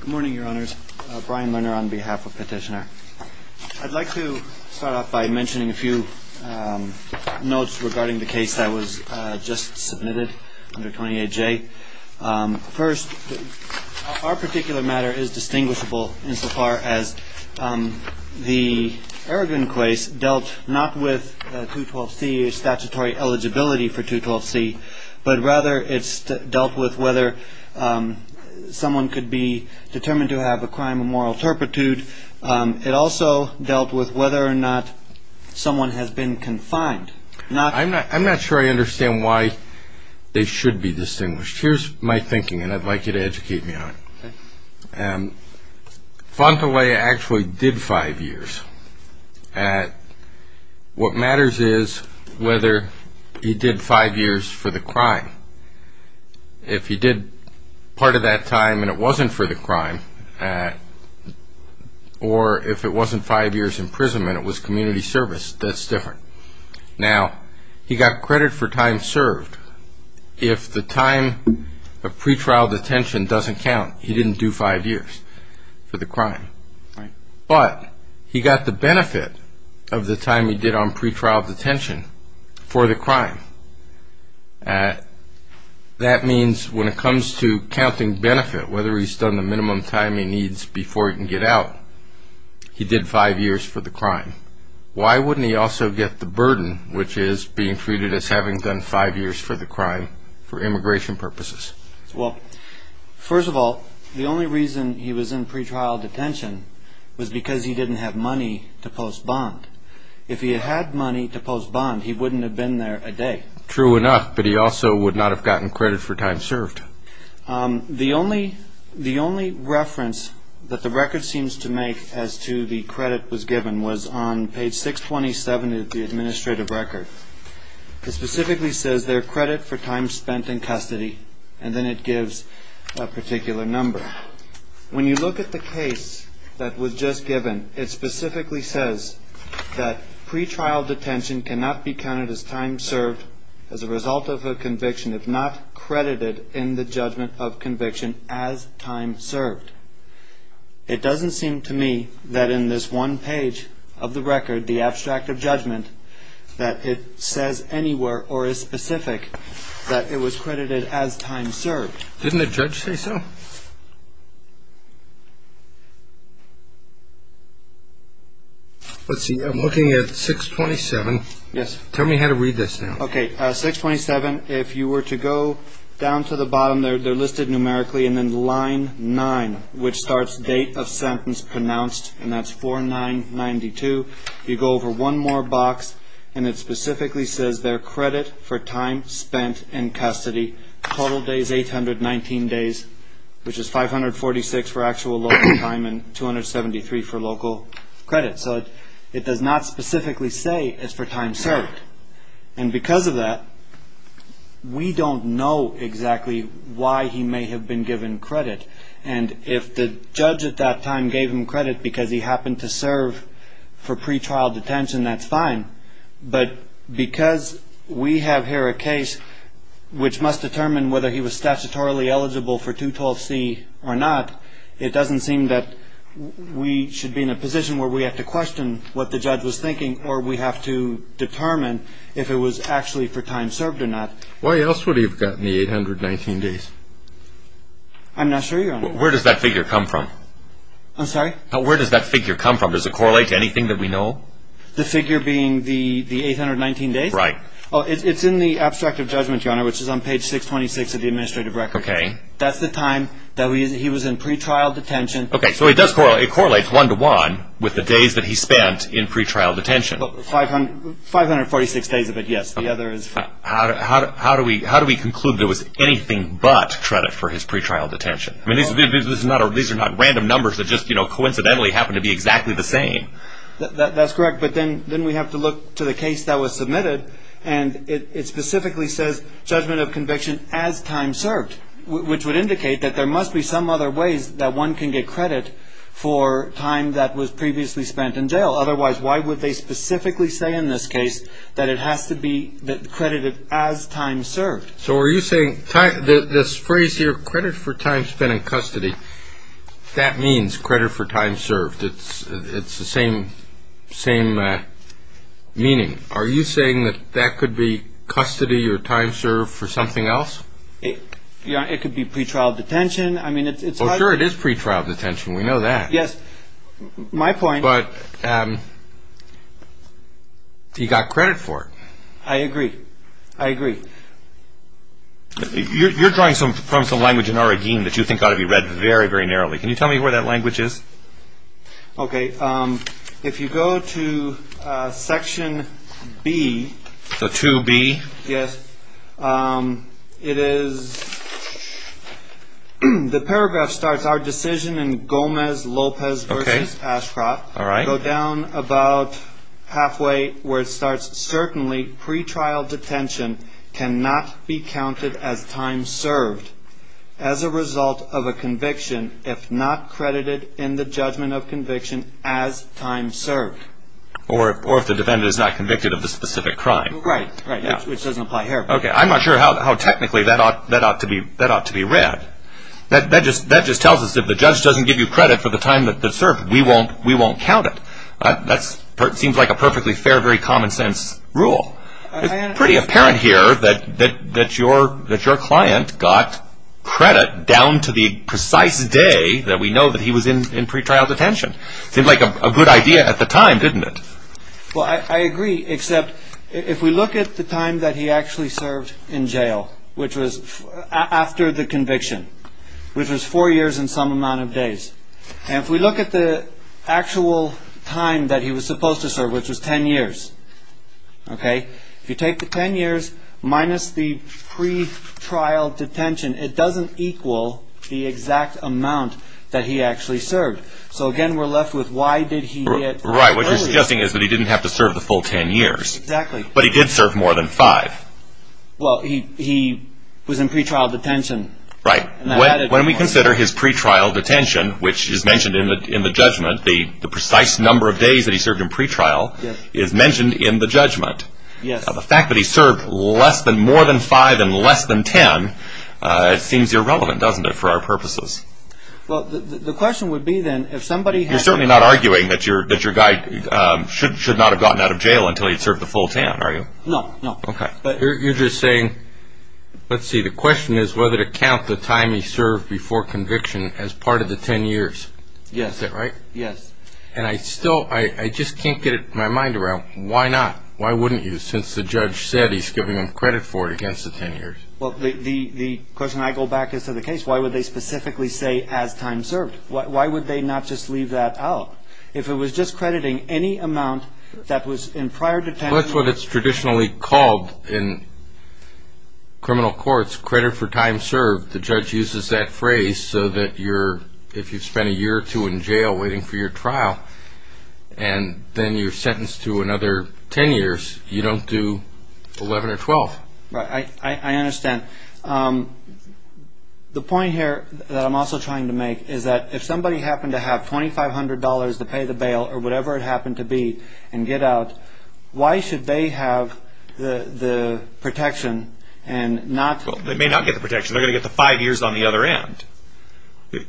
Good morning, Your Honors. Brian Lerner on behalf of Petitioner. I'd like to start off by mentioning a few notes regarding the case that was just submitted under 28J. First, our particular matter is distinguishable insofar as the Erdogan case dealt not with 212C statutory eligibility for 212C, but rather it dealt with whether someone could be determined to have a crime of moral turpitude. It also dealt with whether or not someone has been confined. I'm not sure I understand why they should be distinguished. Here's my thinking, and I'd like you to educate me on it. Fantalea actually did five years. What matters is whether he did five years for the crime. If he did part of that time and it wasn't for the crime, or if it wasn't five years imprisonment, it was community service, that's different. Now, he got credit for time served. If the time of pretrial detention doesn't count, he didn't do five years for the crime. But he got the benefit of the time he did on pretrial detention for the crime. That means when it comes to counting benefit, whether he's done the minimum time he needs before he can get out, he did five years for the crime. Why wouldn't he also get the burden, which is being treated as having done five years for the crime, for immigration purposes? Well, first of all, the only reason he was in pretrial detention was because he didn't have money to post bond. If he had money to post bond, he wouldn't have been there a day. True enough, but he also would not have gotten credit for time served. The only reference that the record seems to make as to the credit was given was on page 627 of the administrative record. It specifically says there are credit for time spent in custody, and then it gives a particular number. When you look at the case that was just given, it specifically says that pretrial detention cannot be counted as time served as a result of a conviction, if not credited in the judgment of conviction as time served. It doesn't seem to me that in this one page of the record, the abstract of judgment, that it says anywhere or is specific that it was credited as time served. Didn't the judge say so? Let's see, I'm looking at 627. Yes. Tell me how to read this now. Okay, 627, if you were to go down to the bottom, they're listed numerically, and then line 9, which starts date of sentence pronounced, and that's 4-9-92. You go over one more box, and it specifically says there are credit for time spent in custody, total days 800, 19 days, which is 546 for actual local time and 273 for local credit. So it does not specifically say it's for time served. And because of that, we don't know exactly why he may have been given credit. And if the judge at that time gave him credit because he happened to serve for pretrial detention, that's fine. But because we have here a case which must determine whether he was statutorily eligible for 212C or not, it doesn't seem that we should be in a position where we have to question what the judge was thinking or we have to determine if it was actually for time served or not. Why else would he have gotten the 800, 19 days? I'm not sure. Where does that figure come from? I'm sorry? Where does that figure come from? Does it correlate to anything that we know? The figure being the 800, 19 days? Right. It's in the abstract of judgment, Your Honor, which is on page 626 of the administrative record. Okay. That's the time that he was in pretrial detention. Okay. So it does correlate. It correlates one-to-one with the days that he spent in pretrial detention. 546 days of it, yes. How do we conclude there was anything but credit for his pretrial detention? These are not random numbers that just coincidentally happen to be exactly the same. That's correct, but then we have to look to the case that was submitted, and it specifically says judgment of conviction as time served, which would indicate that there must be some other ways that one can get credit for time that was previously spent in jail. Otherwise, why would they specifically say in this case that it has to be credited as time served? So are you saying this phrase here, credit for time spent in custody, that means credit for time served. It's the same meaning. Are you saying that that could be custody or time served for something else? It could be pretrial detention. I mean, it's hard to say. Well, sure, it is pretrial detention. We know that. Yes. My point. But he got credit for it. I agree. I agree. You're drawing from some language in our regime that you think ought to be read very, very narrowly. Can you tell me where that language is? Okay. If you go to Section B. So 2B. Yes. It is, the paragraph starts, our decision in Gomez-Lopez v. Ashcroft. Okay. All right. Go down about halfway where it starts, certainly pretrial detention cannot be counted as time served as a result of a conviction if not credited in the judgment of conviction as time served. Or if the defendant is not convicted of the specific crime. Right. Which doesn't apply here. Okay. I'm not sure how technically that ought to be read. That just tells us if the judge doesn't give you credit for the time that's served, we won't count it. That seems like a perfectly fair, very common sense rule. It's pretty apparent here that your client got credit down to the precise day that we know that he was in pretrial detention. It seemed like a good idea at the time, didn't it? Well, I agree, except if we look at the time that he actually served in jail, which was after the conviction, which was four years and some amount of days, and if we look at the actual time that he was supposed to serve, which was ten years, okay, if you take the ten years minus the pretrial detention, it doesn't equal the exact amount that he actually served. So, again, we're left with why did he get credit? Right. What you're suggesting is that he didn't have to serve the full ten years. Exactly. But he did serve more than five. Well, he was in pretrial detention. Right. When we consider his pretrial detention, which is mentioned in the judgment, the precise number of days that he served in pretrial is mentioned in the judgment. The fact that he served more than five and less than ten, it seems irrelevant, doesn't it, for our purposes? Well, the question would be, then, if somebody had... You're certainly not arguing that your guy should not have gotten out of jail until he had served the full ten, are you? No, no. Okay. You're just saying, let's see, the question is whether to count the time he served before conviction as part of the ten years. Yes. Is that right? Yes. And I still, I just can't get my mind around, why not? Why wouldn't you, since the judge said he's giving him credit for it against the ten years? Well, the question I go back is to the case. Why would they specifically say as time served? Why would they not just leave that out? If it was just crediting any amount that was in prior detention... Well, that's what it's traditionally called in criminal courts, credit for time served. The judge uses that phrase so that if you've spent a year or two in jail waiting for your trial and then you're sentenced to another ten years, you don't do 11 or 12. Right. I understand. The point here that I'm also trying to make is that if somebody happened to have $2,500 to pay the bail or whatever it happened to be and get out, why should they have the protection and not... Well, they may not get the protection. They're going to get the five years on the other end.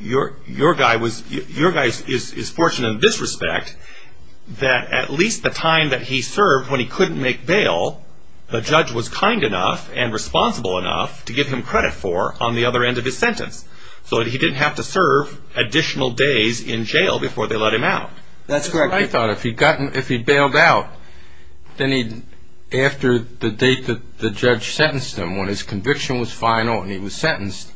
Your guy is fortunate in this respect that at least the time that he served when he couldn't make bail, the judge was kind enough and responsible enough to give him credit for on the other end of his sentence so that he didn't have to serve additional days in jail before they let him out. That's correct. I thought if he'd bailed out, then after the date that the judge sentenced him, when his conviction was final and he was sentenced,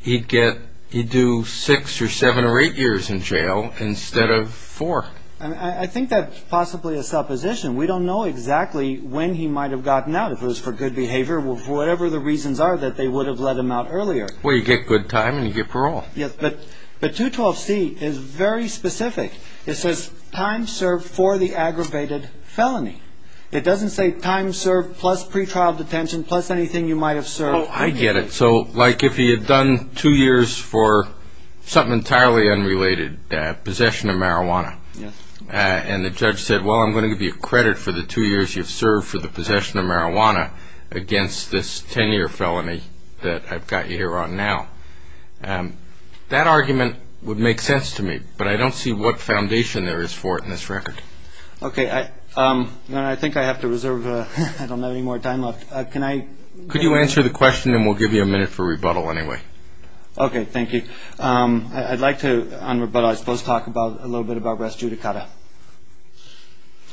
he'd do six or seven or eight years in jail instead of four. I think that's possibly a supposition. We don't know exactly when he might have gotten out, if it was for good behavior or whatever the reasons are that they would have let him out earlier. Well, you get good time and you get parole. Yes, but 212C is very specific. It says time served for the aggravated felony. It doesn't say time served plus pretrial detention plus anything you might have served. Oh, I get it. So like if he had done two years for something entirely unrelated, possession of marijuana, and the judge said, well, I'm going to give you credit for the two years you've served for the possession of marijuana against this 10-year felony that I've got you here on now. That argument would make sense to me, but I don't see what foundation there is for it in this record. Okay, I think I have to reserve. I don't have any more time left. Could you answer the question and we'll give you a minute for rebuttal anyway? Okay, thank you. I'd like to, on rebuttal, I suppose, talk a little bit about rest judicata.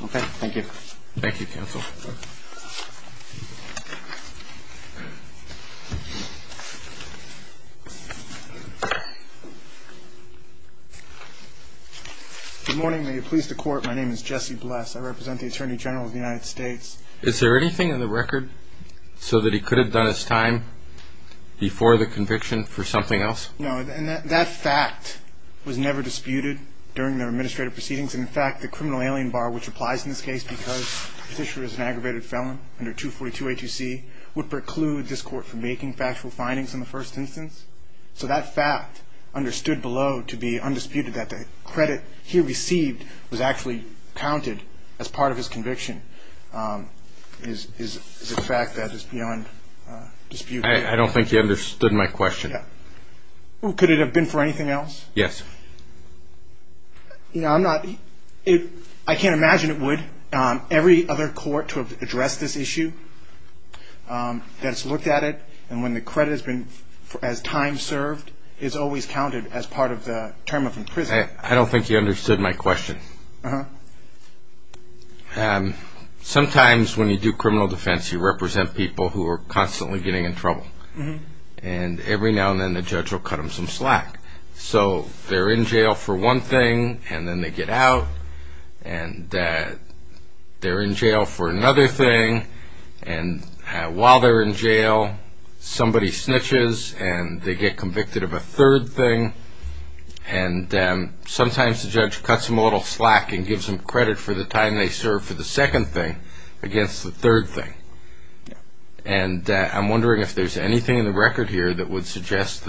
Okay, thank you. Thank you, counsel. Good morning. May it please the Court, my name is Jesse Bless. I represent the Attorney General of the United States. Is there anything in the record so that he could have done his time before the conviction for something else? No, and that fact was never disputed during the administrative proceedings. In fact, the criminal alien bar, which applies in this case because the petitioner is an aggravated felon under 242-HEC, would preclude this Court from making factual findings in the first instance. So that fact understood below to be undisputed, that the credit he received was actually counted as part of his conviction, is a fact that is beyond dispute. I don't think you understood my question. Could it have been for anything else? Yes. I can't imagine it would. Every other court to have addressed this issue that has looked at it and when the credit has been as time served is always counted as part of the term of imprisonment. I don't think you understood my question. Sometimes when you do criminal defense you represent people who are constantly getting in trouble. And every now and then the judge will cut them some slack. So they're in jail for one thing and then they get out. And they're in jail for another thing. And while they're in jail somebody snitches and they get convicted of a third thing. And sometimes the judge cuts them a little slack and gives them credit for the time they served for the second thing against the third thing. And I'm wondering if there's anything in the record here that would suggest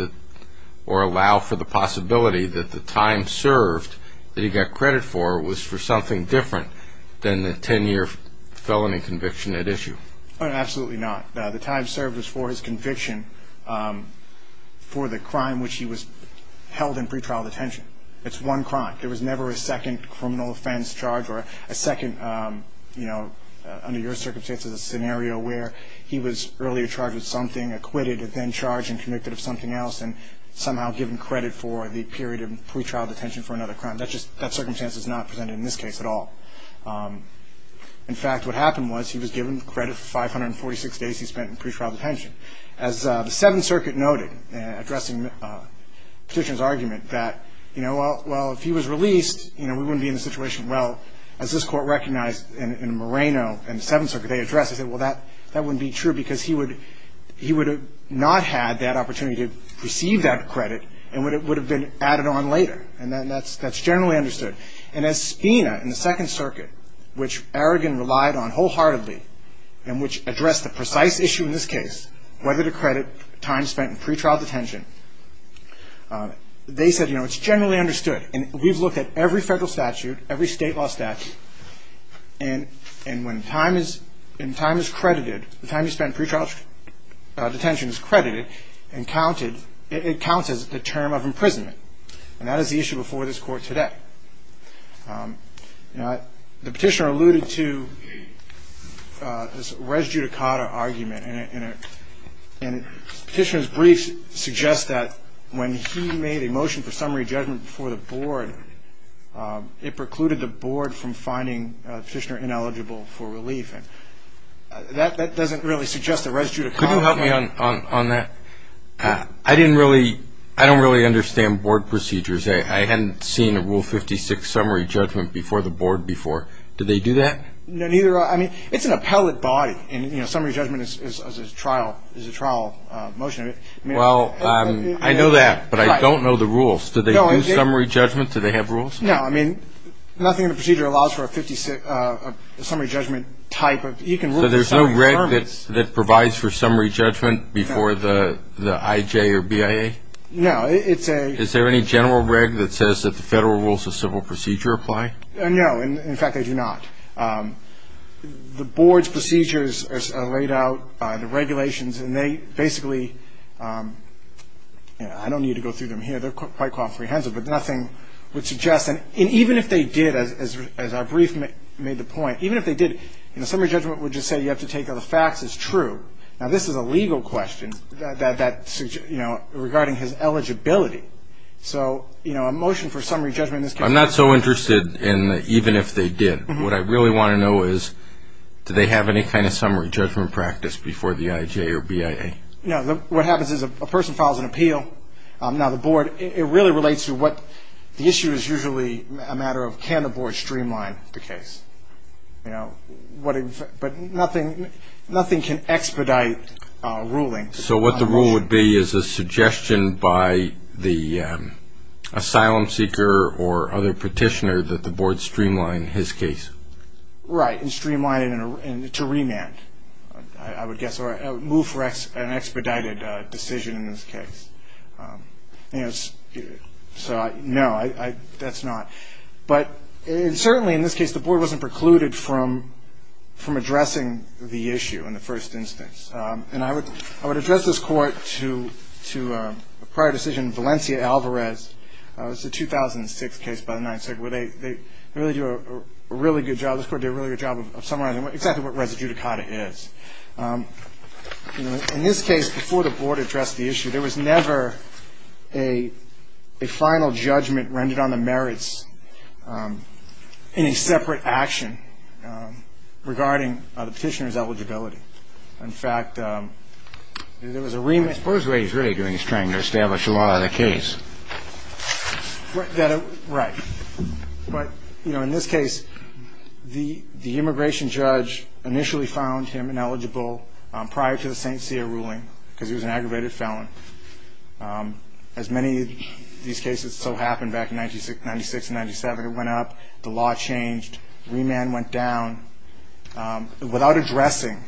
or allow for the possibility that the time served that he got credit for was for something different than the 10-year felony conviction at issue. Absolutely not. The time served was for his conviction for the crime which he was held in pretrial detention. It's one crime. There was never a second criminal offense charge or a second, you know, under your circumstances a scenario where he was earlier charged with something, acquitted and then charged and convicted of something else and somehow given credit for the period of pretrial detention for another crime. That circumstance is not presented in this case at all. In fact, what happened was he was given credit for 546 days he spent in pretrial detention. As the Seventh Circuit noted, addressing Petitioner's argument that, you know, well, if he was released, you know, we wouldn't be in this situation. Well, as this Court recognized in Moreno and the Seventh Circuit, they addressed it. They said, well, that wouldn't be true because he would have not had that opportunity to receive that credit and it would have been added on later. And that's generally understood. And as Spina in the Second Circuit, which Aragon relied on wholeheartedly and which addressed the precise issue in this case, whether to credit time spent in pretrial detention, they said, you know, it's generally understood. And we've looked at every federal statute, every state law statute, and when time is credited, the time you spend in pretrial detention is credited and it counts as the term of imprisonment. And that is the issue before this Court today. You know, the Petitioner alluded to this res judicata argument. And Petitioner's brief suggests that when he made a motion for summary judgment before the Board, it precluded the Board from finding Petitioner ineligible for relief. And that doesn't really suggest a res judicata. Could you help me on that? I don't really understand Board procedures. I hadn't seen a Rule 56 summary judgment before the Board before. Do they do that? No, neither have I. I mean, it's an appellate body and, you know, summary judgment is a trial motion. Well, I know that, but I don't know the rules. Do they do summary judgment? Do they have rules? No. I mean, nothing in the procedure allows for a summary judgment type. So there's no reg that provides for summary judgment before the IJ or BIA? No. Is there any general reg that says that the federal rules of civil procedure apply? No. In fact, they do not. The Board's procedures are laid out, the regulations, and they basically, you know, I don't need to go through them here. They're quite comprehensive, but nothing would suggest. And even if they did, as our brief made the point, even if they did, you know, summary judgment would just say you have to take the facts as true. Now, this is a legal question that, you know, regarding his eligibility. So, you know, a motion for summary judgment in this case. I'm not so interested in even if they did. What I really want to know is do they have any kind of summary judgment practice before the IJ or BIA? No. What happens is a person files an appeal. Now, the Board, it really relates to what the issue is usually a matter of can the Board streamline the case? You know, but nothing can expedite a ruling. So what the rule would be is a suggestion by the asylum seeker or other petitioner that the Board streamline his case? Right, and streamline it to remand, I would guess, or move for an expedited decision in this case. You know, so no, that's not. But certainly in this case, the Board wasn't precluded from addressing the issue in the first instance. And I would address this Court to a prior decision, Valencia-Alvarez. It's a 2006 case by the Ninth Circuit where they really do a really good job. This Court did a really good job of summarizing exactly what res judicata is. You know, in this case, before the Board addressed the issue, there was never a final judgment rendered on the merits in a separate action regarding the petitioner's eligibility. In fact, there was a remand. I suppose what he's really doing is trying to establish the law of the case. Right. But, you know, in this case, the immigration judge initially found him ineligible prior to the St. David felon. As many of these cases still happen back in 1996 and 1997, it went up. The law changed. Remand went down without addressing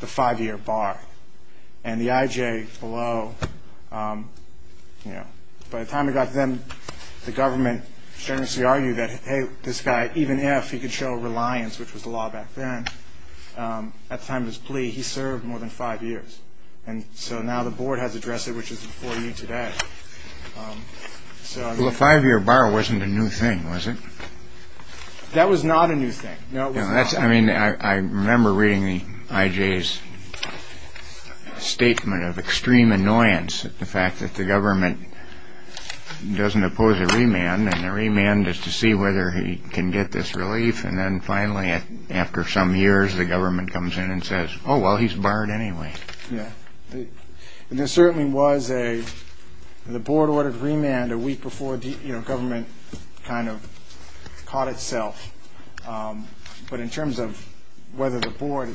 the five-year bar. And the IJ below, you know, by the time it got to them, the government generously argued that, hey, this guy, even if he could show reliance, which was the law back then, at the time of his plea, he served more than five years. And so now the Board has addressed it, which is before you today. Well, a five-year bar wasn't a new thing, was it? That was not a new thing. No, it was not. I mean, I remember reading the IJ's statement of extreme annoyance at the fact that the government doesn't oppose a remand, and the remand is to see whether he can get this relief. And then finally, after some years, the government comes in and says, oh, well, he's barred anyway. Yeah. And there certainly was a – the Board ordered remand a week before, you know, government kind of caught itself. But in terms of whether the Board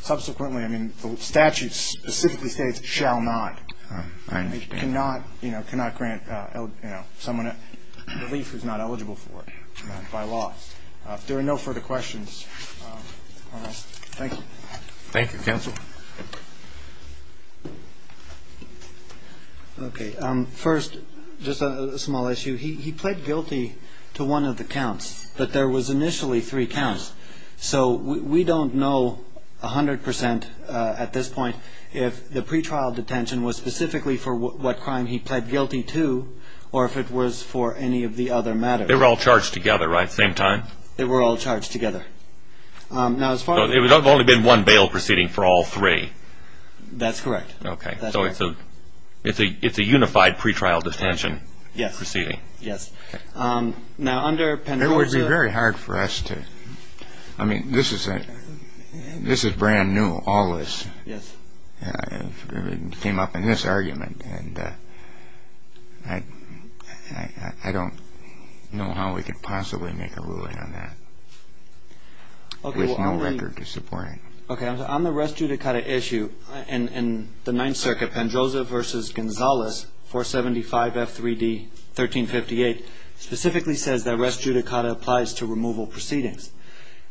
subsequently – I mean, the statute specifically states it shall not. I understand. It cannot, you know, cannot grant, you know, someone a relief who's not eligible for it by law. There are no further questions on this. Thank you. Thank you, Counsel. Okay. First, just a small issue. He pled guilty to one of the counts, but there was initially three counts. So we don't know 100% at this point if the pretrial detention was specifically for what crime he pled guilty to or if it was for any of the other matters. They were all charged together, right? Same time? They were all charged together. Now, as far as – So it would have only been one bail proceeding for all three. That's correct. Okay. So it's a unified pretrial detention proceeding. Yes. Yes. Now, under – It would be very hard for us to – I mean, this is brand new, all this. Yes. It came up in this argument, and I don't know how we could possibly make a ruling on that with no record to support it. Okay. On the res judicata issue in the Ninth Circuit, Pendroza v. Gonzales, 475F3D, 1358, specifically says that res judicata applies to removal proceedings.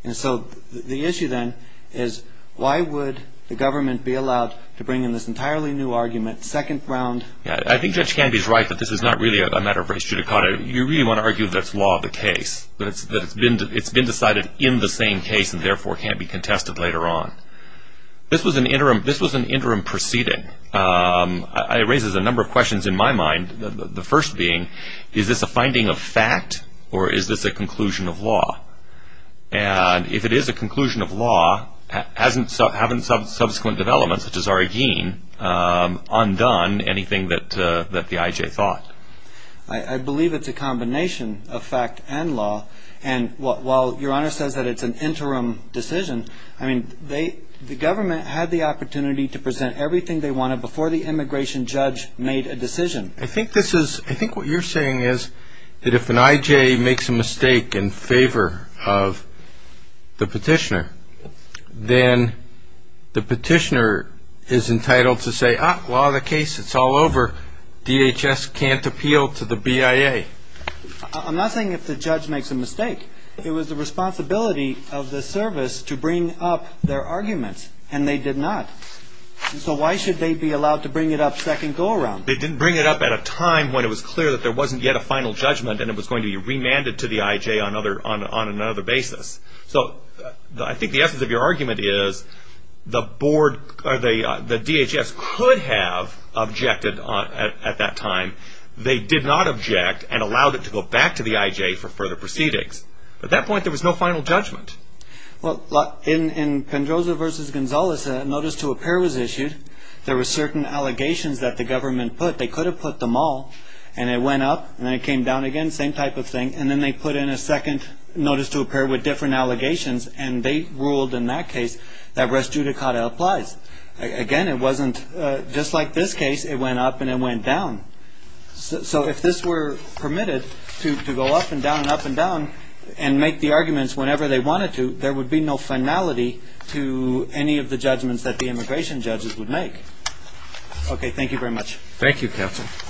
And so the issue then is why would the government be allowed to bring in this entirely new argument, second round? I think Judge Canby is right that this is not really a matter of res judicata. You really want to argue that it's law of the case, that it's been decided in the same case and therefore can't be contested later on. This was an interim proceeding. It raises a number of questions in my mind, the first being, is this a finding of fact or is this a conclusion of law? And if it is a conclusion of law, haven't subsequent developments, such as Arreguin, undone anything that the I.J. thought? I believe it's a combination of fact and law. And while Your Honor says that it's an interim decision, I mean, the government had the opportunity to present everything they wanted before the immigration judge made a decision. I think what you're saying is that if an I.J. makes a mistake in favor of the petitioner, then the petitioner is entitled to say, ah, law of the case, it's all over, DHS can't appeal to the BIA. I'm not saying if the judge makes a mistake. It was the responsibility of the service to bring up their arguments, and they did not. So why should they be allowed to bring it up second go around? They didn't bring it up at a time when it was clear that there wasn't yet a final judgment and it was going to be remanded to the I.J. on another basis. So I think the essence of your argument is the board, or the DHS, could have objected at that time. They did not object and allowed it to go back to the I.J. for further proceedings. At that point, there was no final judgment. Well, in Pendroza v. Gonzalez, a notice to appear was issued. There were certain allegations that the government put. They could have put them all, and it went up and then it came down again, same type of thing, and then they put in a second notice to appear with different allegations, and they ruled in that case that res judicata applies. Again, it wasn't just like this case. It went up and it went down. So if this were permitted to go up and down and up and down and make the arguments whenever they wanted to, there would be no finality to any of the judgments that the immigration judges would make. Okay, thank you very much. Thank you, counsel.